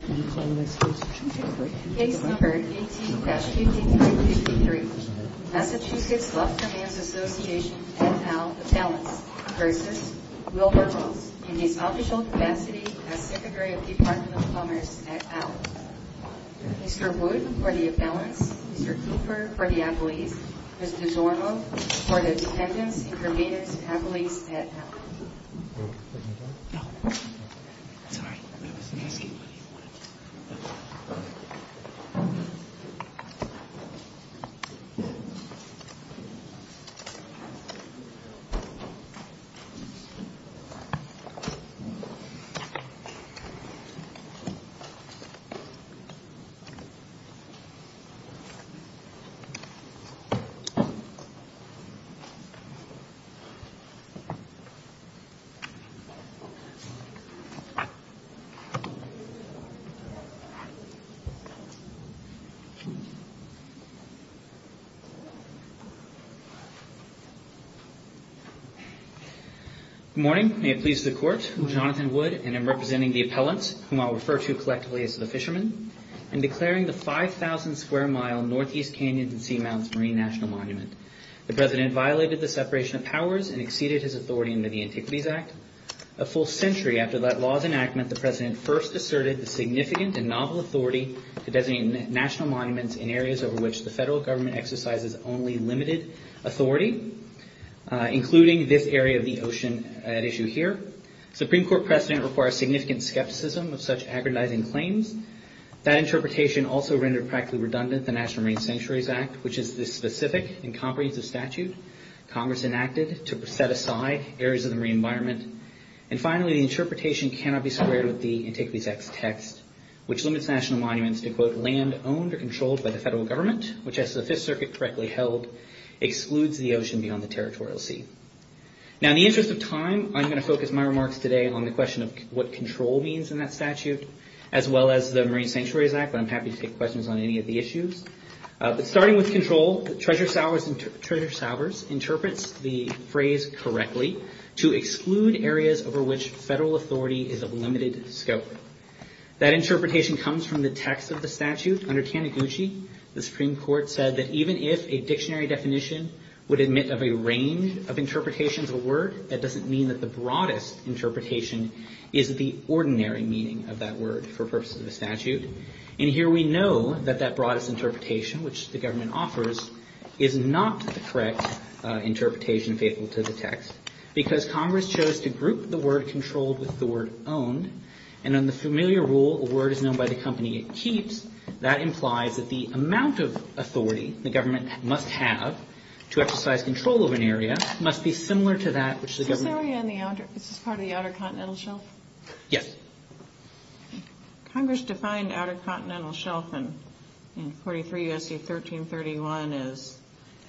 Case number 18-5353, Massachusetts Lobstermen's Association, et al. Appellants versus Wilbur Ross in his official capacity as Secretary of the Department of Commerce, et al. Mr. Wood for the appellants, Mr. Cooper for the appellees, Mr. Zorlo for the dependents, intervenors, appellees, et al. Thank you. Good morning. May it please the Court, I'm Jonathan Wood and I'm representing the appellants, whom I'll refer to collectively as the fishermen, in declaring the 5,000 square mile Northeast Canyons and Seamounts Marine National Monument. The President violated the separation of powers and exceeded his authority under the Antiquities Act. A full century after that law's enactment, the President first asserted the significant and novel authority to designate national monuments in areas over which the federal government exercises only limited authority, including this area of the ocean at issue here. The Supreme Court precedent requires significant skepticism of such aggrandizing claims. That interpretation also rendered practically redundant the National Marine Sanctuaries Act, which is this specific and comprehensive statute Congress enacted to set aside areas of the marine environment. And finally, the interpretation cannot be squared with the Antiquities Act's text, which limits national monuments to, quote, land owned or controlled by the federal government, which as the Fifth Circuit correctly held, excludes the ocean beyond the territorial sea. Now, in the interest of time, I'm going to focus my remarks today on the question of what control means in that statute, as well as the Marine Sanctuaries Act, but I'm happy to take questions on any of the issues. Starting with control, Treasurer Saubers interprets the phrase correctly to exclude areas over which federal authority is of limited scope. That interpretation comes from the text of the statute. Under Taniguchi, the Supreme Court said that even if a dictionary definition would admit of a range of interpretations of a word, that doesn't mean that the broadest interpretation is the ordinary meaning of that word for purposes of a statute. And here we know that that broadest interpretation, which the government offers, is not the correct interpretation faithful to the text, because Congress chose to group the word controlled with the word owned. And in the familiar rule, a word is known by the company it keeps. That implies that the amount of authority the government must have to exercise control over an area must be similar to that which the government Is this part of the Outer Continental Shelf? Yes. Congress defined Outer Continental Shelf in 43 U.S.C. 1331 as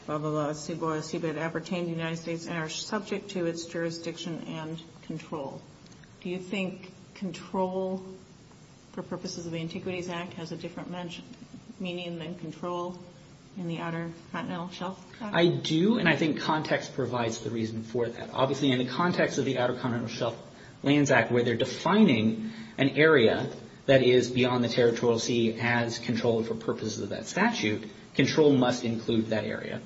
above the law, subo, subet, appertaining to the United States and are subject to its jurisdiction and control. Do you think control for purposes of the Antiquities Act has a different meaning than control in the Outer Continental Shelf? I do, and I think context provides the reason for that. Obviously, in the context of the Outer Continental Shelf Lands Act, where they're defining an area that is beyond the territorial sea as controlled for purposes of that statute, control must include that area.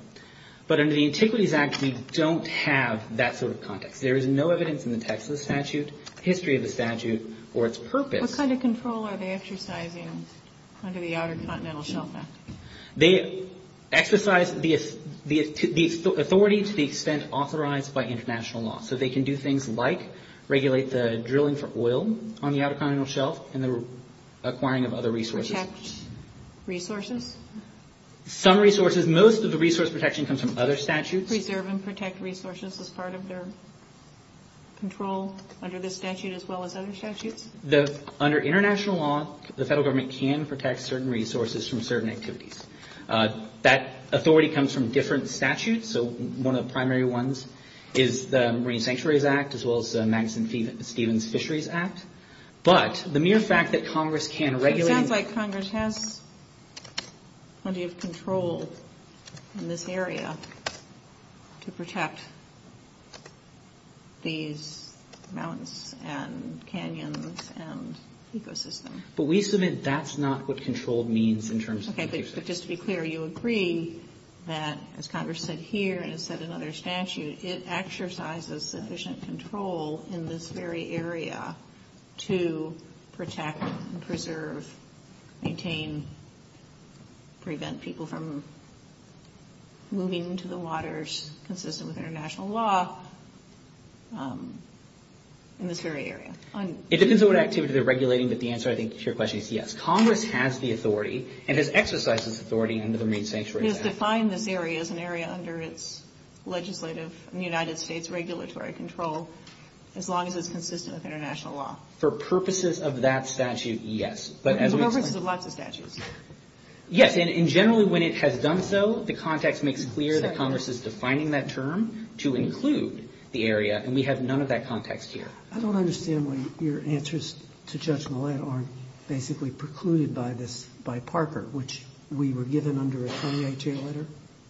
But under the Antiquities Act, we don't have that sort of context. There is no evidence in the text of the statute, the history of the statute, or its purpose. What kind of control are they exercising under the Outer Continental Shelf Act? They exercise the authority to the extent authorized by international law. So they can do things like regulate the drilling for oil on the Outer Continental Shelf and the acquiring of other resources. Protect resources? Some resources. Most of the resource protection comes from other statutes. Preserve and protect resources as part of their control under this statute as well as other statutes? Under international law, the federal government can protect certain resources from certain activities. That authority comes from different statutes. So one of the primary ones is the Marine Sanctuaries Act as well as the Madison-Stevens Fisheries Act. But the mere fact that Congress can regulate... But we submit that's not what controlled means in terms of... Okay. But just to be clear, you agree that, as Congress said here and has said in other statutes, it exercises sufficient control in this very area to protect, preserve, maintain, prevent people from moving to the waters consistent with international law in this very area? It depends on what activity they're regulating, but the answer, I think, to your question is yes. Congress has the authority and has exercised this authority under the Marine Sanctuaries Act. It has defined this area as an area under its legislative United States regulatory control as long as it's consistent with international law. For purposes of that statute, yes. For purposes of lots of statutes. Yes, and generally when it has done so, the context makes clear that Congress is defining that term to include the area, and we have none of that context here. I don't understand why your answers to Judge Millett aren't basically precluded by this, by Parker, which we were given under a 28-year letter,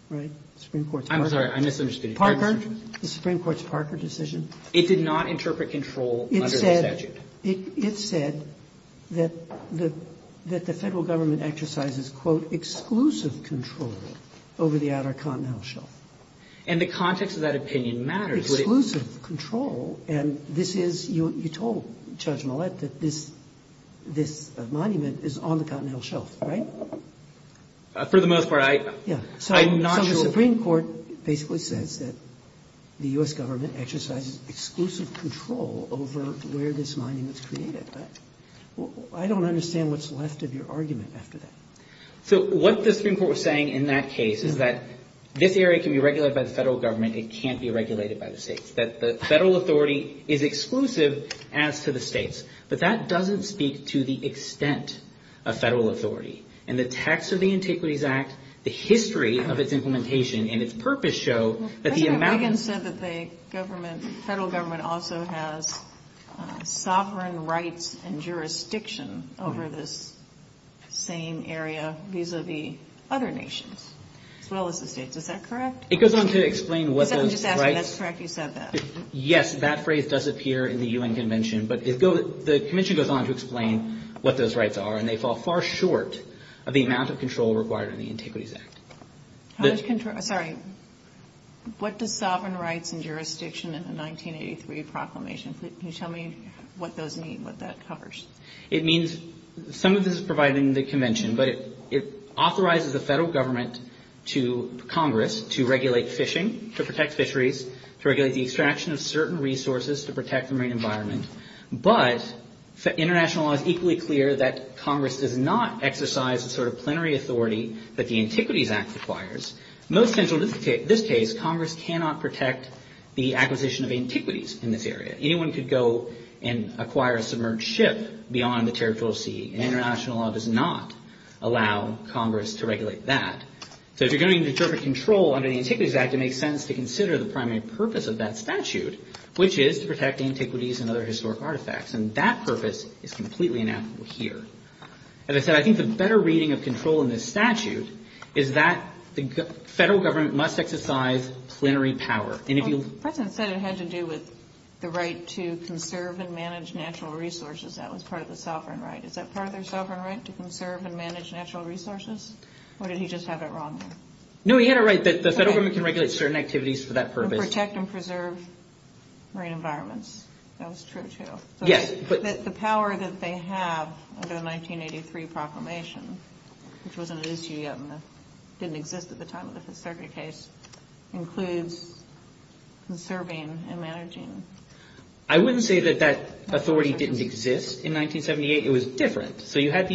right? The Supreme Court's... I'm sorry. I misunderstood you. Parker, the Supreme Court's Parker decision... It did not interpret control under the statute. It said that the Federal Government exercises, quote, exclusive control over the outer continental shelf. And the context of that opinion matters. Exclusive control, and this is you told Judge Millett that this monument is on the continental shelf, right? For the most part, I'm not sure... So the Supreme Court basically says that the U.S. Government exercises exclusive control over where this monument's created, right? I don't understand what's left of your argument after that. So what the Supreme Court was saying in that case is that this area can be regulated by the Federal Government, it can't be regulated by the states. That the Federal Authority is exclusive as to the states, but that doesn't speak to the extent of Federal Authority. In the text of the Antiquities Act, the history of its implementation and its purpose show that the amount... President Reagan said that the Federal Government also has sovereign rights and jurisdiction over this same area vis-a-vis other nations as well as the states. Is that correct? It goes on to explain what those rights... Just ask me if that's correct, you said that. Yes, that phrase does appear in the U.N. Convention, but the convention goes on to explain what those rights are, and they fall far short of the amount of control required in the Antiquities Act. Sorry, what does sovereign rights and jurisdiction in the 1983 proclamation? Can you tell me what those mean, what that covers? It means some of this is provided in the convention, but it authorizes the Federal Government to Congress to regulate fishing, to protect fisheries, to regulate the extraction of certain resources to protect the marine environment. But international law is equally clear that Congress does not exercise the sort of plenary authority that the Antiquities Act requires. Most central to this case, Congress cannot protect the acquisition of antiquities in this area. Anyone could go and acquire a submerged ship beyond the territorial sea, and international law does not allow Congress to regulate that. So if you're going to interpret control under the Antiquities Act, it makes sense to consider the primary purpose of that statute, which is to protect antiquities and other historic artifacts. And that purpose is completely inapplicable here. As I said, I think the better reading of control in this statute is that the Federal Government must exercise plenary power. The President said it had to do with the right to conserve and manage natural resources. That was part of the sovereign right. Is that part of their sovereign right, to conserve and manage natural resources? Or did he just have it wrong? No, he had it right that the Federal Government can regulate certain activities for that purpose. And protect and preserve marine environments. That was true, too. The power that they have under the 1983 proclamation, which wasn't an issue yet and didn't exist at the time of the Fifth Circuit case, includes conserving and managing. I wouldn't say that that authority didn't exist in 1978. It was different. So you had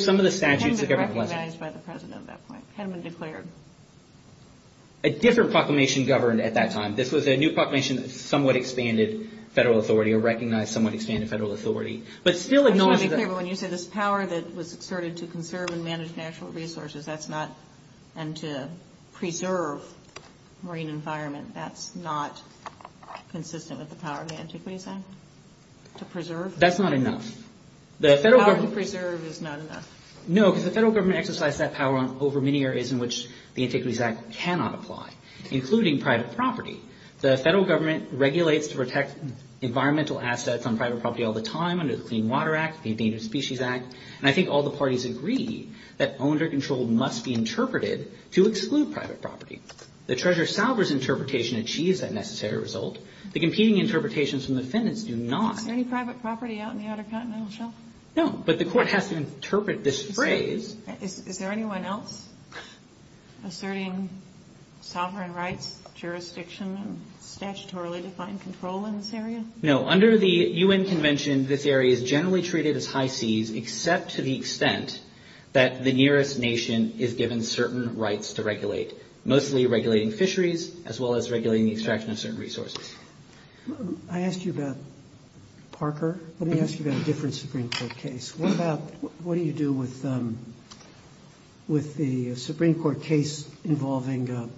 some of the statutes of government. It hadn't been recognized by the President at that point. It hadn't been declared. A different proclamation governed at that time. This was a new proclamation that somewhat expanded federal authority or recognized somewhat expanded federal authority. But still acknowledged that... I just want to be clear. But when you say this power that was asserted to conserve and manage natural resources, and to preserve marine environment, that's not consistent with the power of the Antiquities Act? To preserve? That's not enough. The power to preserve is not enough? No, because the Federal Government exercised that power over many areas in which the Antiquities Act cannot apply, including private property. The Federal Government regulates to protect environmental assets on private property all the time under the Clean Water Act, the Endangered Species Act. And I think all the parties agree that owned or controlled must be interpreted to exclude private property. The Treasurer Sauber's interpretation achieves that necessary result. The competing interpretations from the defendants do not. Is there any private property out in the Outer Continental Shelf? No, but the Court has to interpret this phrase. Is there anyone else asserting sovereign rights, jurisdiction, and statutorily defined control in this area? No. Under the U.N. Convention, this area is generally treated as high seas, except to the extent that the nearest nation is given certain rights to regulate, mostly regulating fisheries as well as regulating the extraction of certain resources. I asked you about Parker. Let me ask you about a different Supreme Court case. What about what do you do with the Supreme Court case involving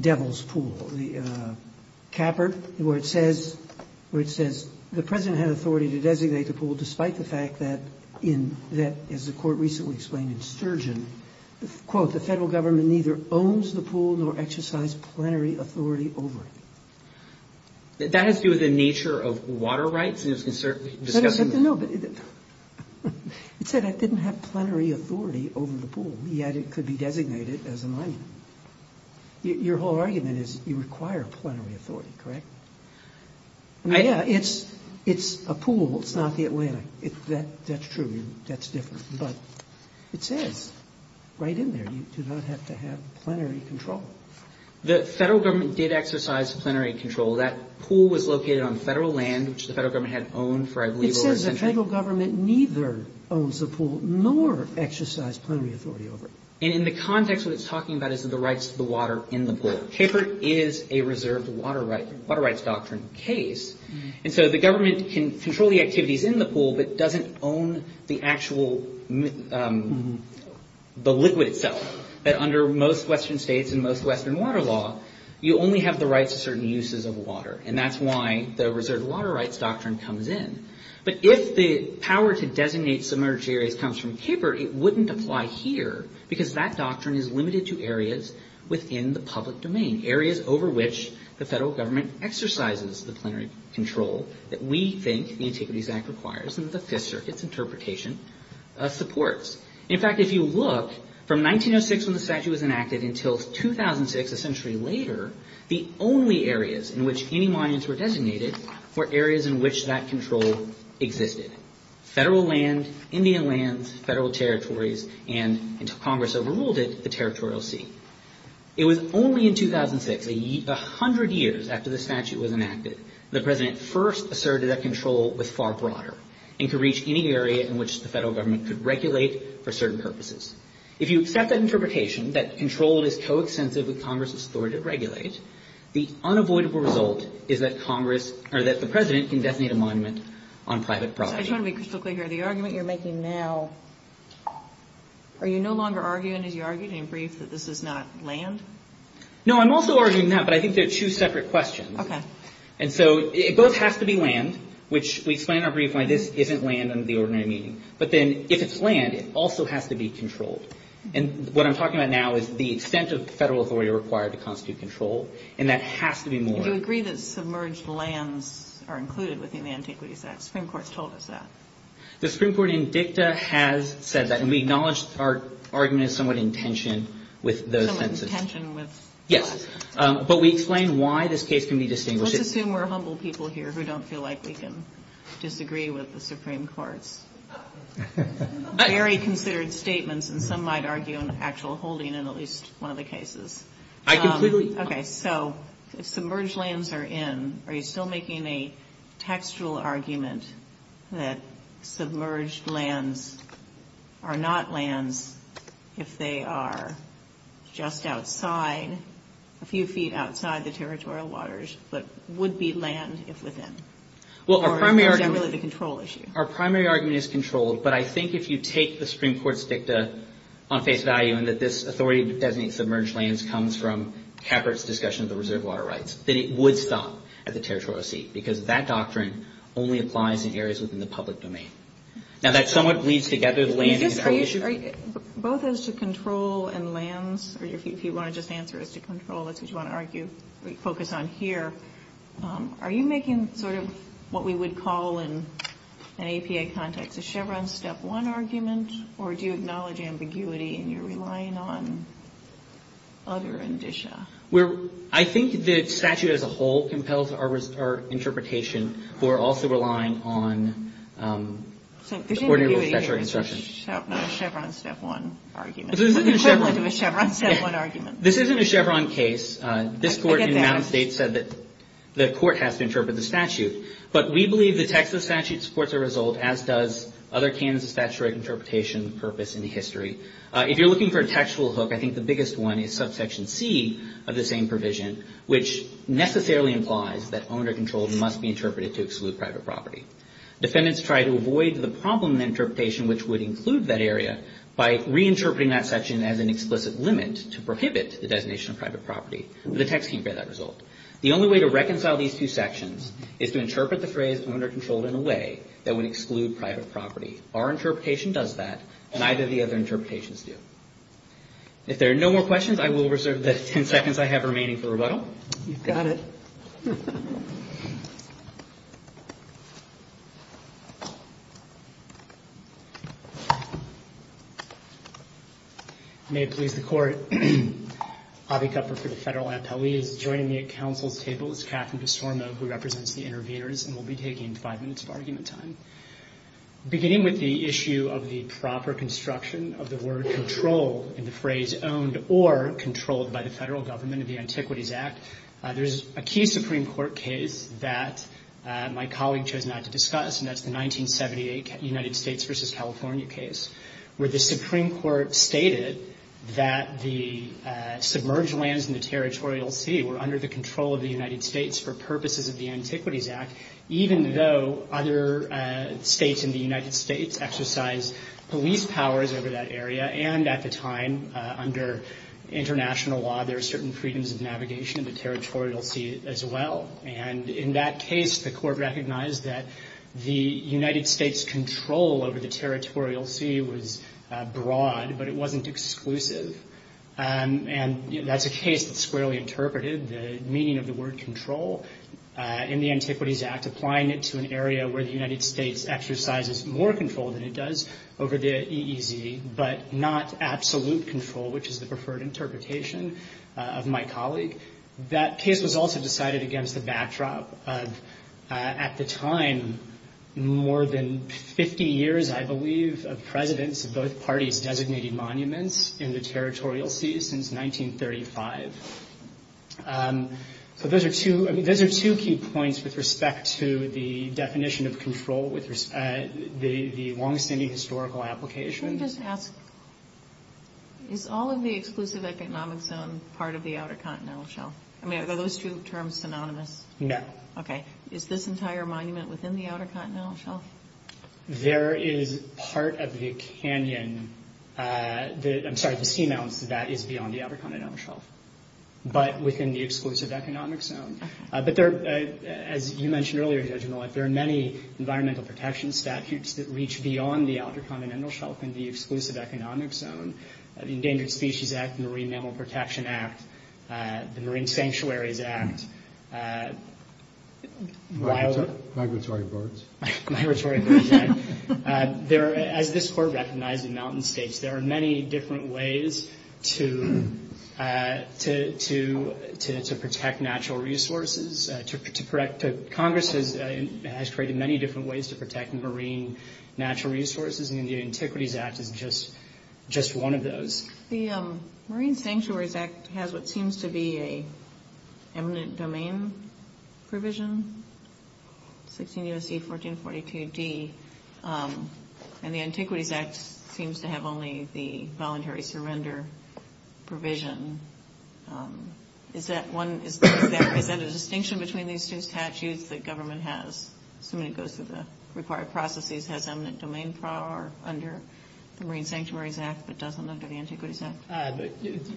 Devil's Pool, the capper, where it says the President had authority to designate the pool despite the fact that, as the Court recently explained in Sturgeon, quote, the Federal Government neither owns the pool nor exercise plenary authority over it. That has to do with the nature of water rights? No, but it said I didn't have plenary authority over the pool, yet it could be designated as a monument. Your whole argument is you require plenary authority, correct? Yeah, it's a pool. It's not the Atlantic. That's true. That's different. But it says right in there you do not have to have plenary control. The Federal Government did exercise plenary control. That pool was located on Federal land, which the Federal Government had owned for, I believe, over a century. It says the Federal Government neither owns the pool nor exercise plenary authority over it. And in the context, what it's talking about is the rights to the water in the pool. Capered is a reserved water rights doctrine case. And so the government can control the activities in the pool, but doesn't own the actual liquid itself. But under most Western states and most Western water law, you only have the rights to certain uses of water. And that's why the reserved water rights doctrine comes in. But if the power to designate submerged areas comes from capered, it wouldn't apply here because that doctrine is limited to areas within the public domain, areas over which the Federal Government exercises the plenary control that we think the Antiquities Act requires and the Fifth Circuit's interpretation supports. In fact, if you look from 1906 when the statute was enacted until 2006, a century later, the only areas in which any monuments were designated were areas in which that control existed. Federal land, Indian lands, Federal territories, and until Congress overruled it, the territorial sea. It was only in 2006, a hundred years after the statute was enacted, the President first asserted that control was far broader and could reach any area in which the Federal Government could regulate for certain purposes. If you accept that interpretation, that control is coextensive with Congress's authority to regulate, the unavoidable result is that the President can designate a monument on private property. I just want to be crystal clear here. The argument you're making now, are you no longer arguing, as you argued in your brief, that this is not land? No, I'm also arguing that, but I think they're two separate questions. Okay. And so it both has to be land, which we explain in our brief why this isn't land under the ordinary meaning. But then if it's land, it also has to be controlled. And what I'm talking about now is the extent of Federal authority required to constitute control, and that has to be more. Do you agree that submerged lands are included within the Antiquities Act? The Supreme Court has told us that. The Supreme Court in dicta has said that, and we acknowledge our argument is somewhat in tension with those sentences. Somewhat in tension with. Yes. But we explain why this case can be distinguished. Let's assume we're humble people here who don't feel like we can disagree with the Supreme Court's very considered statements, and some might argue an actual holding in at least one of the cases. I completely. Okay. So if submerged lands are in, are you still making a textual argument that submerged lands are not lands if they are just outside, a few feet outside the territorial waters, but would be land if within? Or is that really the control issue? Well, our primary argument is controlled, but I think if you take the Supreme Court's dicta on face value, and that this authority to designate submerged lands comes from Capert's discussion of the reserve water rights, then it would stop at the territorial seat because that doctrine only applies in areas within the public domain. Now, that somewhat bleeds together the land issue. Both as to control and lands, or if you want to just answer as to control, that's what you want to focus on here. Are you making sort of what we would call in an APA context a Chevron step one argument, or do you acknowledge ambiguity and you're relying on other indicia? I think the statute as a whole compels our interpretation. We're also relying on ordinary statutory instructions. So there's ambiguity in a Chevron step one argument. This isn't a Chevron case. This isn't a Chevron step one argument. This isn't a Chevron case. I get that. This Court in Mountain State said that the Court has to interpret the statute, but we believe the text of the statute supports our result, as does other Kansas statutory interpretation purpose in the history. If you're looking for a textual hook, I think the biggest one is subsection C of the same provision, which necessarily implies that owner control must be interpreted to exclude private property. Defendants try to avoid the problem in the interpretation which would include that area by reinterpreting that section as an explicit limit to prohibit the designation of private property, but the text can't get that result. The only way to reconcile these two sections is to interpret the phrase owner control in a way that would exclude private property. Our interpretation does that, and neither of the other interpretations do. If there are no more questions, I will reserve the ten seconds I have remaining for rebuttal. You've got it. May it please the Court, Avi Kupfer for the Federal Appellee is joining me at Council's table. It's Catherine DeSorma who represents the interviewers, and we'll be taking five minutes of argument time. Beginning with the issue of the proper construction of the word control in the phrase owned or controlled by the Federal Government of the Antiquities Act, there's a key Supreme Court case that my colleague chose not to discuss, and that's the 1978 United States v. California case, where the Supreme Court stated that the submerged lands in the territorial sea were under the control of the United States for purposes of the Antiquities Act, even though other states in the United States exercised police powers over that area, and at the time, under international law, there were certain freedoms of navigation in the territorial sea as well. And in that case, the Court recognized that the United States' control over the territorial sea was broad, but it wasn't exclusive. And that's a case that's squarely interpreted, the meaning of the word control in the Antiquities Act, applying it to an area where the United States exercises more control than it does over the EEZ, but not absolute control, which is the preferred interpretation of my colleague. That case was also decided against the backdrop of, at the time, more than 50 years, I believe, of presidents of both parties designating monuments in the territorial sea since 1935. So those are two key points with respect to the definition of control, the longstanding historical application. Can I just ask, is all of the exclusive economic zone part of the Outer Continental Shelf? I mean, are those two terms synonymous? No. Okay. Is this entire monument within the Outer Continental Shelf? There is part of the canyon, I'm sorry, the seamounts, that is beyond the Outer Continental Shelf, but within the exclusive economic zone. But as you mentioned earlier, Judge Millett, there are many environmental protection statutes that reach beyond the Outer Continental Shelf and the exclusive economic zone. The Endangered Species Act, the Marine Mammal Protection Act, the Marine Sanctuaries Act, Migratory birds. Migratory birds. As this Court recognized in Mountain States, there are many different ways to protect natural resources. Congress has created many different ways to protect marine natural resources, and the Antiquities Act is just one of those. The Marine Sanctuaries Act has what seems to be an eminent domain provision, 16 U.S.C. 1442D, and the Antiquities Act seems to have only the voluntary surrender provision. Is that a distinction between these two statutes that government has, assuming it goes through the required processes, has eminent domain power under the Marine Sanctuaries Act but doesn't under the Antiquities Act?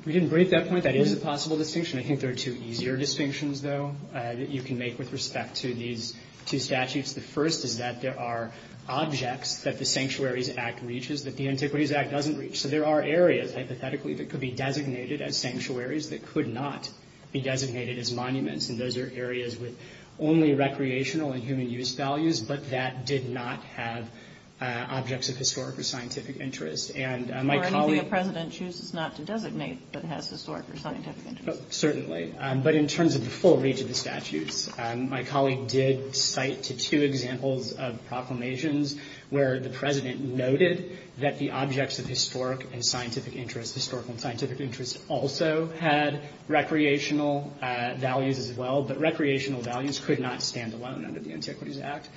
We didn't break that point. That is a possible distinction. I think there are two easier distinctions, though, that you can make with respect to these two statutes. The first is that there are objects that the Sanctuaries Act reaches that the Antiquities Act doesn't reach. So there are areas, hypothetically, that could be designated as sanctuaries that could not be designated as monuments, and those are areas with only recreational and human use values, but that did not have objects of historic or scientific interest. Or anything the President chooses not to designate that has historic or scientific interest. Certainly. But in terms of the full reach of the statutes, my colleague did cite two examples of proclamations where the President noted that the objects of historic and scientific interest, historical and scientific interest, also had recreational values as well, but recreational values could not stand alone under the Antiquities Act.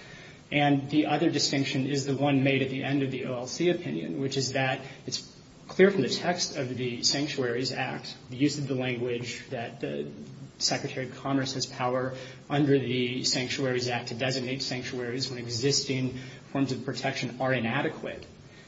And the other distinction is the one made at the end of the OLC opinion, which is that it's clear from the text of the Sanctuaries Act, the use of the language that the Secretary of Congress has power under the Sanctuaries Act to designate sanctuaries when existing forms of protection are inadequate,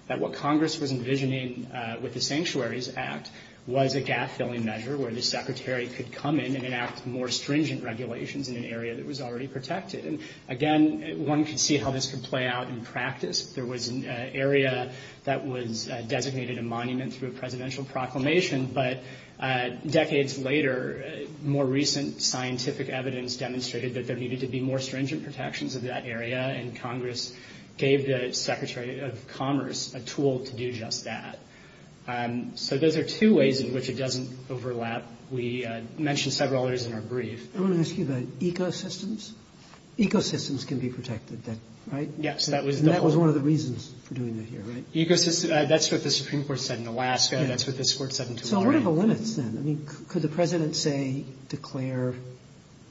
that what Congress was envisioning with the Sanctuaries Act was a gap-filling measure where the Secretary could come in and enact more stringent regulations in an area that was already protected. And, again, one could see how this could play out in practice. There was an area that was designated a monument through a presidential proclamation, but decades later more recent scientific evidence demonstrated that there needed to be more stringent protections of that area, and Congress gave the Secretary of Commerce a tool to do just that. So those are two ways in which it doesn't overlap. We mentioned several others in our brief. I want to ask you about ecosystems. Ecosystems can be protected, right? Yes. And that was one of the reasons for doing that here, right? That's what the Supreme Court said in Alaska. That's what this Court said in Tulare. So what are the limits, then? I mean, could the President, say, declare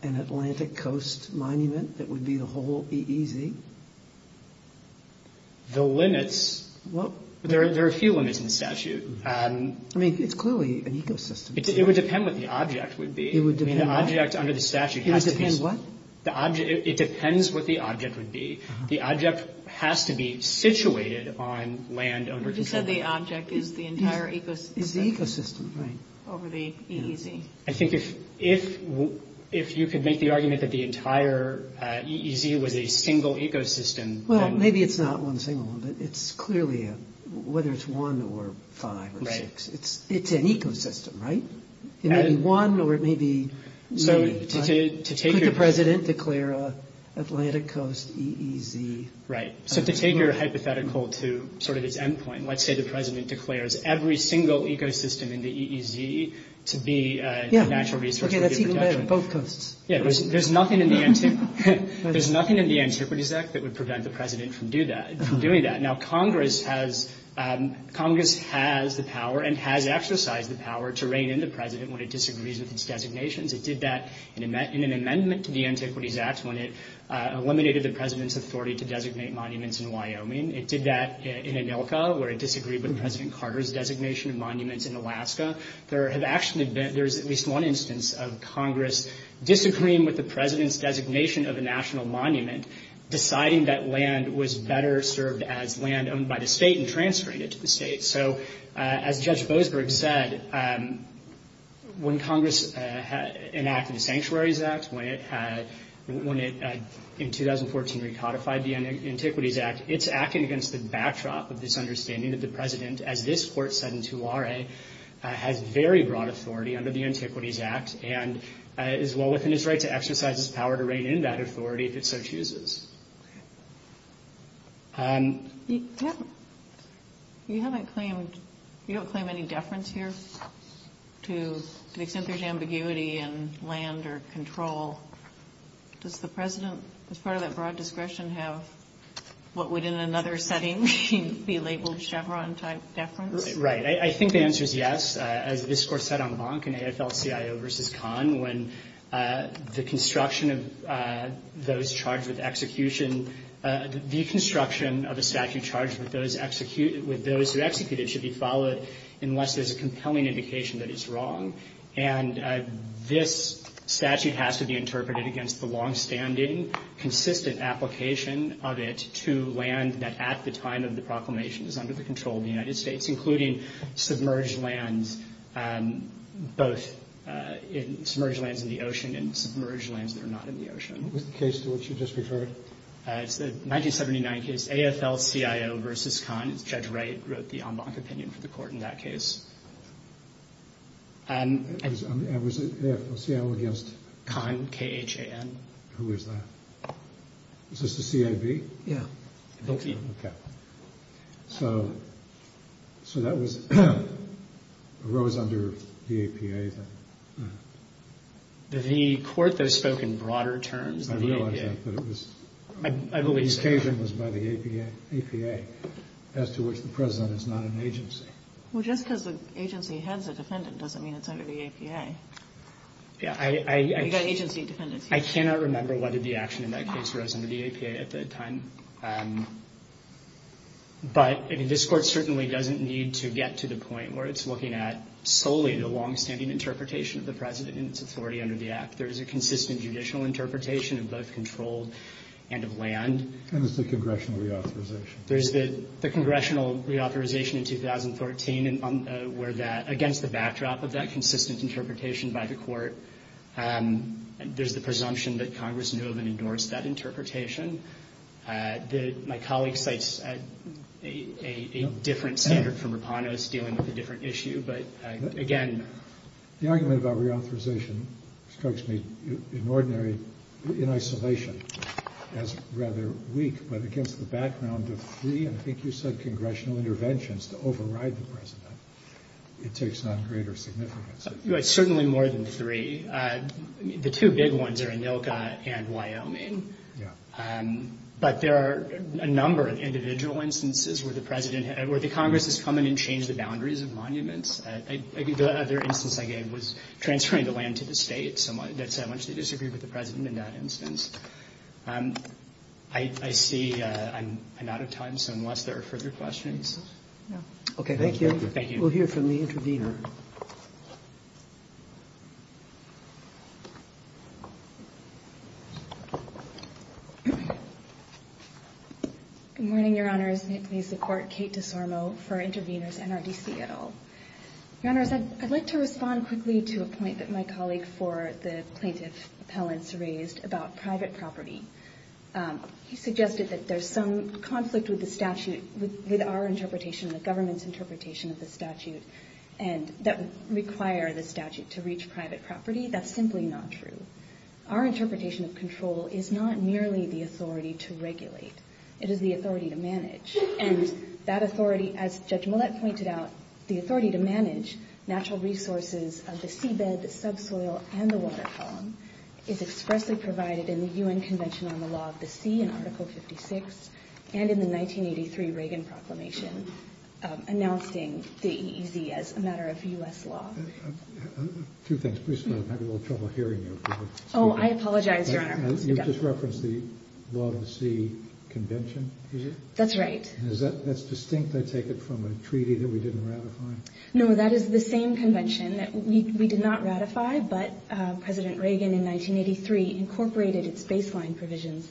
an Atlantic Coast monument that would be the whole EEZ? The limits? There are a few limits in the statute. I mean, it's clearly an ecosystem. It would depend what the object would be. It would depend what? I mean, the object under the statute has to be. It would depend what? It depends what the object would be. The object has to be situated on land under control. You said the object is the entire ecosystem. It's the ecosystem, right. Over the EEZ. I think if you could make the argument that the entire EEZ was a single ecosystem, then. Well, maybe it's not one single one, but it's clearly a – whether it's one or five or six. Right. It's an ecosystem, right? It may be one or it may be many. Could the President declare an Atlantic Coast EEZ? Right. So to take your hypothetical to sort of its end point, let's say the President declares every single ecosystem in the EEZ to be a natural resource. Yeah. Okay, that's even better. Both coasts. Yeah. There's nothing in the Antiquities Act that would prevent the President from doing that. Now, Congress has the power and has exercised the power to rein in the President when it disagrees with its designations. It did that in an amendment to the Antiquities Act when it eliminated the President's authority to designate monuments in Wyoming. It did that in Anilka where it disagreed with President Carter's designation of monuments in Alaska. There have actually been – there's at least one instance of Congress disagreeing with the President's designation of a national monument, deciding that land was better served as land owned by the state and transferring it to the state. So as Judge Bosberg said, when Congress enacted the Sanctuaries Act, when it in 2014 recodified the Antiquities Act, it's acting against the backdrop of this understanding that the President, as this Court said in 2RA, has very broad authority under the Antiquities Act and is well within his right to exercise his power to rein in that authority if it so chooses. You haven't claimed – you don't claim any deference here to the extent there's ambiguity in land or control. Does the President, as part of that broad discretion, have what would in another setting be labeled Chevron-type deference? Right. I think the answer is yes. As this Court said en banc in AFL-CIO v. Kahn, when the construction of those charged with execution – the construction of a statute charged with those who execute it should be followed unless there's a compelling indication that it's wrong. And this statute has to be interpreted against the longstanding, consistent application of it to land that at the time of the proclamation is under the control of the United States, including submerged lands – both submerged lands in the ocean and submerged lands that are not in the ocean. What was the case to which you just referred? It's the 1979 case AFL-CIO v. Kahn. Judge Wright wrote the en banc opinion for the Court in that case. And was AFL-CIO against? Kahn, K-H-A-N. Who is that? Is this the CAB? Yeah. Okay. So that was – arose under the APA, then. The Court, though, spoke in broader terms than the APA. I realize that, but it was – I believe so. The occasion was by the APA, as to which the President is not an agency. Well, just because an agency heads a defendant doesn't mean it's under the APA. Yeah, I – You've got agency defendants here. I cannot remember whether the action in that case arose under the APA at that time. But, I mean, this Court certainly doesn't need to get to the point where it's looking at solely the longstanding interpretation of the President and its authority under the Act. There is a consistent judicial interpretation of both controlled and of land. And it's a congressional reauthorization. There's the congressional reauthorization in 2013, where that – against the backdrop of that consistent interpretation by the Court, there's the presumption that Congress knew of and ignores that interpretation. My colleague cites a different standard from Rapano's, dealing with a different issue. But, again – The argument about reauthorization strikes me in ordinary – in isolation as rather weak, but against the background of three, I think you said, congressional interventions to override the President. It takes on greater significance. Certainly more than three. The two big ones are Anilka and Wyoming. Yeah. But there are a number of individual instances where the President – where the Congress has come in and changed the boundaries of monuments. I think the other instance I gave was transferring the land to the State. That's how much they disagreed with the President in that instance. I see I'm out of time, so unless there are further questions – No. Okay, thank you. Thank you. We'll hear from the intervener. Good morning, Your Honors. May it please the Court. Kate DeSormo for Interveners NRDC et al. Your Honors, I'd like to respond quickly to a point that my colleague for the plaintiff appellants raised about private property. He suggested that there's some conflict with the statute – with our interpretation and the government's interpretation of the statute – that would require the statute to reach private property. That's simply not true. Our interpretation of control is not merely the authority to regulate. It is the authority to manage. And that authority, as Judge Millett pointed out, the authority to manage natural resources of the seabed, the subsoil, and the water column is expressly provided in the UN Convention on the Law of the Sea in Article 56 and in the 1983 Reagan proclamation announcing the EEZ as a matter of U.S. law. Two things. Please, I'm having a little trouble hearing you. Oh, I apologize, Your Honor. You just referenced the Law of the Sea Convention? That's right. That's distinct, I take it, from a treaty that we didn't ratify? No, that is the same convention that we did not ratify, but President Reagan in 1983 incorporated its baseline provisions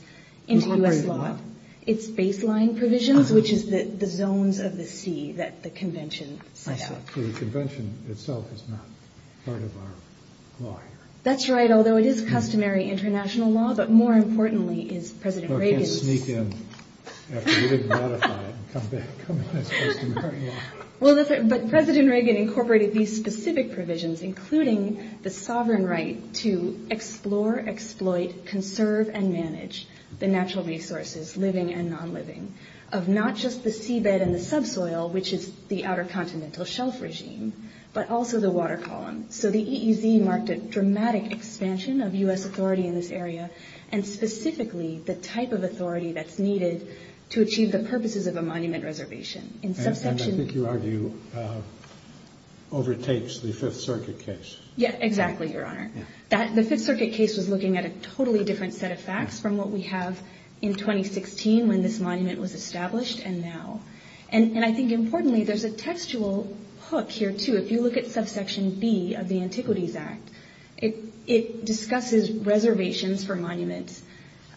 into U.S. law. Incorporated what? Its baseline provisions, which is the zones of the sea that the convention set out. I see. So the convention itself is not part of our law here. That's right. Although it is customary international law, but more importantly is President Reagan's – Well, I can't sneak in after we didn't ratify it and come in as customary law. Well, that's right. But President Reagan incorporated these specific provisions, including the sovereign right to explore, exploit, conserve, and manage the natural resources, living and nonliving, of not just the seabed and the subsoil, which is the Outer Continental Shelf regime, but also the water column. So the EEZ marked a dramatic expansion of U.S. authority in this area, and specifically the type of authority that's needed to achieve the purposes of a monument reservation. And I think you argue overtakes the Fifth Circuit case. Yeah, exactly, Your Honor. The Fifth Circuit case was looking at a totally different set of facts from what we have in 2016 when this monument was established and now. And I think, importantly, there's a textual hook here, too. If you look at subsection B of the Antiquities Act, it discusses reservations for monuments,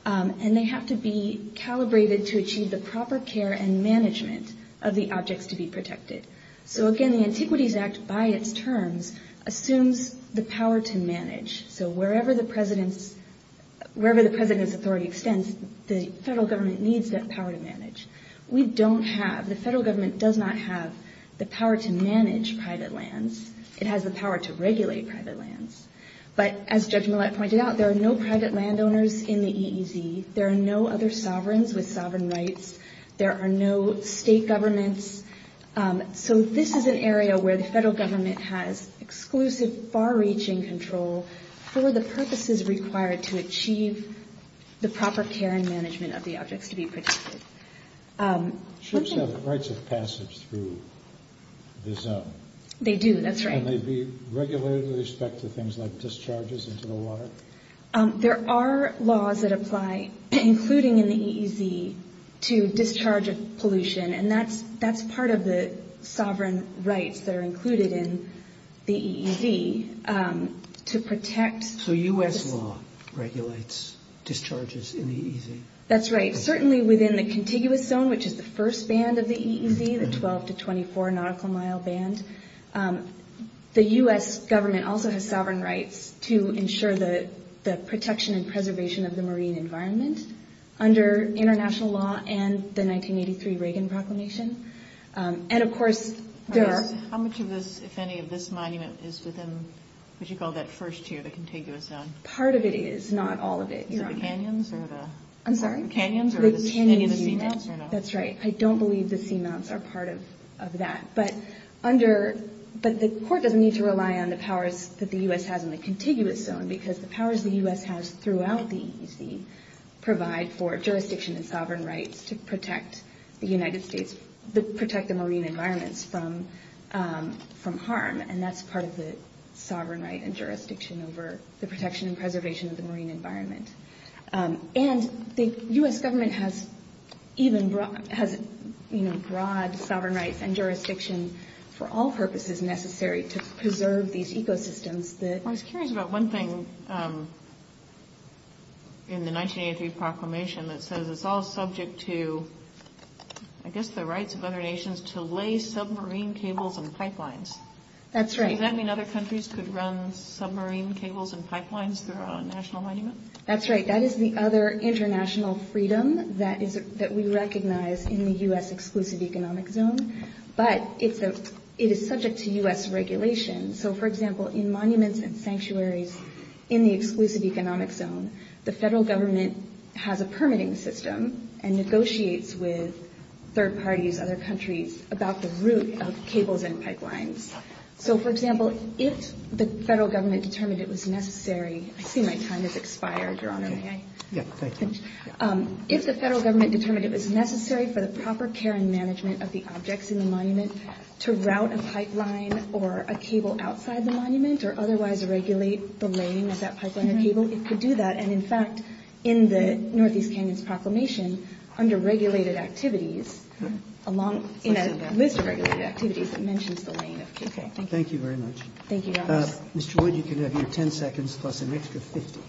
and they have to be calibrated to achieve the proper care and management of the objects to be protected. So, again, the Antiquities Act, by its terms, assumes the power to manage. So wherever the president's authority extends, the federal government needs that power to manage. We don't have, the federal government does not have the power to manage private lands. It has the power to regulate private lands. But as Judge Millett pointed out, there are no private landowners in the EEZ. There are no other sovereigns with sovereign rights. There are no state governments. So this is an area where the federal government has exclusive far-reaching control for the purposes required to achieve the proper care and management of the objects to be protected. Ships have rights of passage through the zone. They do, that's right. Can they be regulated with respect to things like discharges into the water? There are laws that apply, including in the EEZ, to discharge of pollution, and that's part of the sovereign rights that are included in the EEZ to protect. So U.S. law regulates discharges in the EEZ? That's right. Certainly within the contiguous zone, which is the first band of the EEZ, the 12 to 24 nautical mile band, the U.S. government also has sovereign rights to ensure the protection and preservation of the marine environment under international law and the 1983 Reagan proclamation. And, of course, there are... How much of this, if any, of this monument is within what you call that first tier, the contiguous zone? Part of it is, not all of it. Is it the canyons or the... I'm sorry? The canyons or any of the seamounts or not? That's right. I don't believe the seamounts are part of that. But the court doesn't need to rely on the powers that the U.S. has in the contiguous zone because the powers the U.S. has throughout the EEZ provide for jurisdiction and sovereign rights to protect the marine environments from harm, and that's part of the sovereign right and jurisdiction over the protection and preservation of the marine environment. And the U.S. government has even... has, you know, broad sovereign rights and jurisdiction for all purposes necessary to preserve these ecosystems that... I was curious about one thing in the 1983 proclamation that says it's all subject to, I guess, the rights of other nations to lay submarine cables and pipelines. That's right. Does that mean other countries could run submarine cables and pipelines throughout a national monument? That's right. That is the other international freedom that we recognize in the U.S. Exclusive Economic Zone, but it is subject to U.S. regulation. So, for example, in monuments and sanctuaries in the Exclusive Economic Zone, the federal government has a permitting system and negotiates with third parties, other countries, about the route of cables and pipelines. So, for example, if the federal government determined it was necessary... I see my time has expired, Your Honor. May I? Yeah, thank you. If the federal government determined it was necessary for the proper care and management of the objects in the monument to route a pipeline or a cable outside the monument or otherwise regulate the lane of that pipeline or cable, it could do that. And, in fact, in the Northeast Canyons Proclamation, under regulated activities, along in a list of regulated activities, it mentions the lane of cable. Thank you very much. Thank you, Your Honor. Mr. Wood, you can have your 10 seconds plus an extra 50.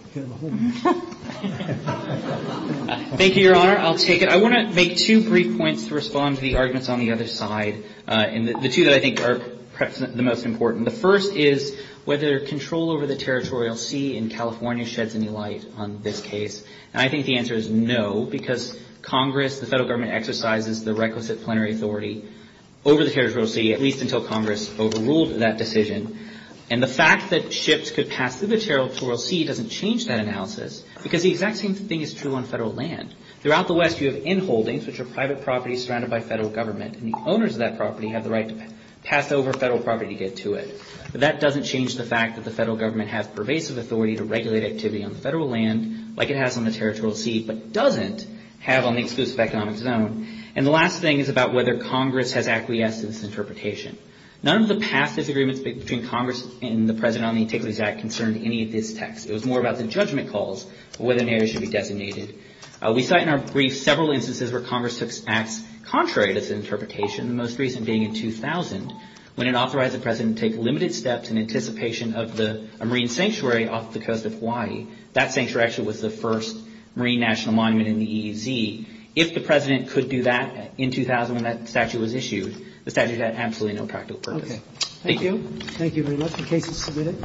Thank you, Your Honor. I'll take it. I want to make two brief points to respond to the arguments on the other side, and the two that I think are perhaps the most important. The first is whether control over the territorial sea in California sheds any light on this case. And I think the answer is no, because Congress, the federal government, exercises the requisite plenary authority over the territorial sea, at least until Congress overruled that decision. And the fact that ships could pass through the territorial sea doesn't change that analysis, because the exact same thing is true on federal land. Throughout the West, you have in-holdings, which are private properties surrounded by federal government, and the owners of that property have the right to pass over federal property to get to it. But that doesn't change the fact that the federal government has pervasive authority to regulate activity on the federal land like it has on the territorial sea, but doesn't have on the exclusive economic zone. And the last thing is about whether Congress has acquiesced to this interpretation. None of the past disagreements between Congress and the President on the Antiquities Act concerned any of this text. It was more about the judgment calls for whether an area should be designated. We cite in our brief several instances where Congress took acts contrary to this interpretation, the most recent being in 2000, when it authorized the President to take limited steps in anticipation of a marine sanctuary off the coast of Hawaii. That sanctuary actually was the first marine national monument in the EEZ. If the President could do that in 2000 when that statute was issued, the statute had absolutely no practical purpose. Thank you. Thank you very much. The case is submitted.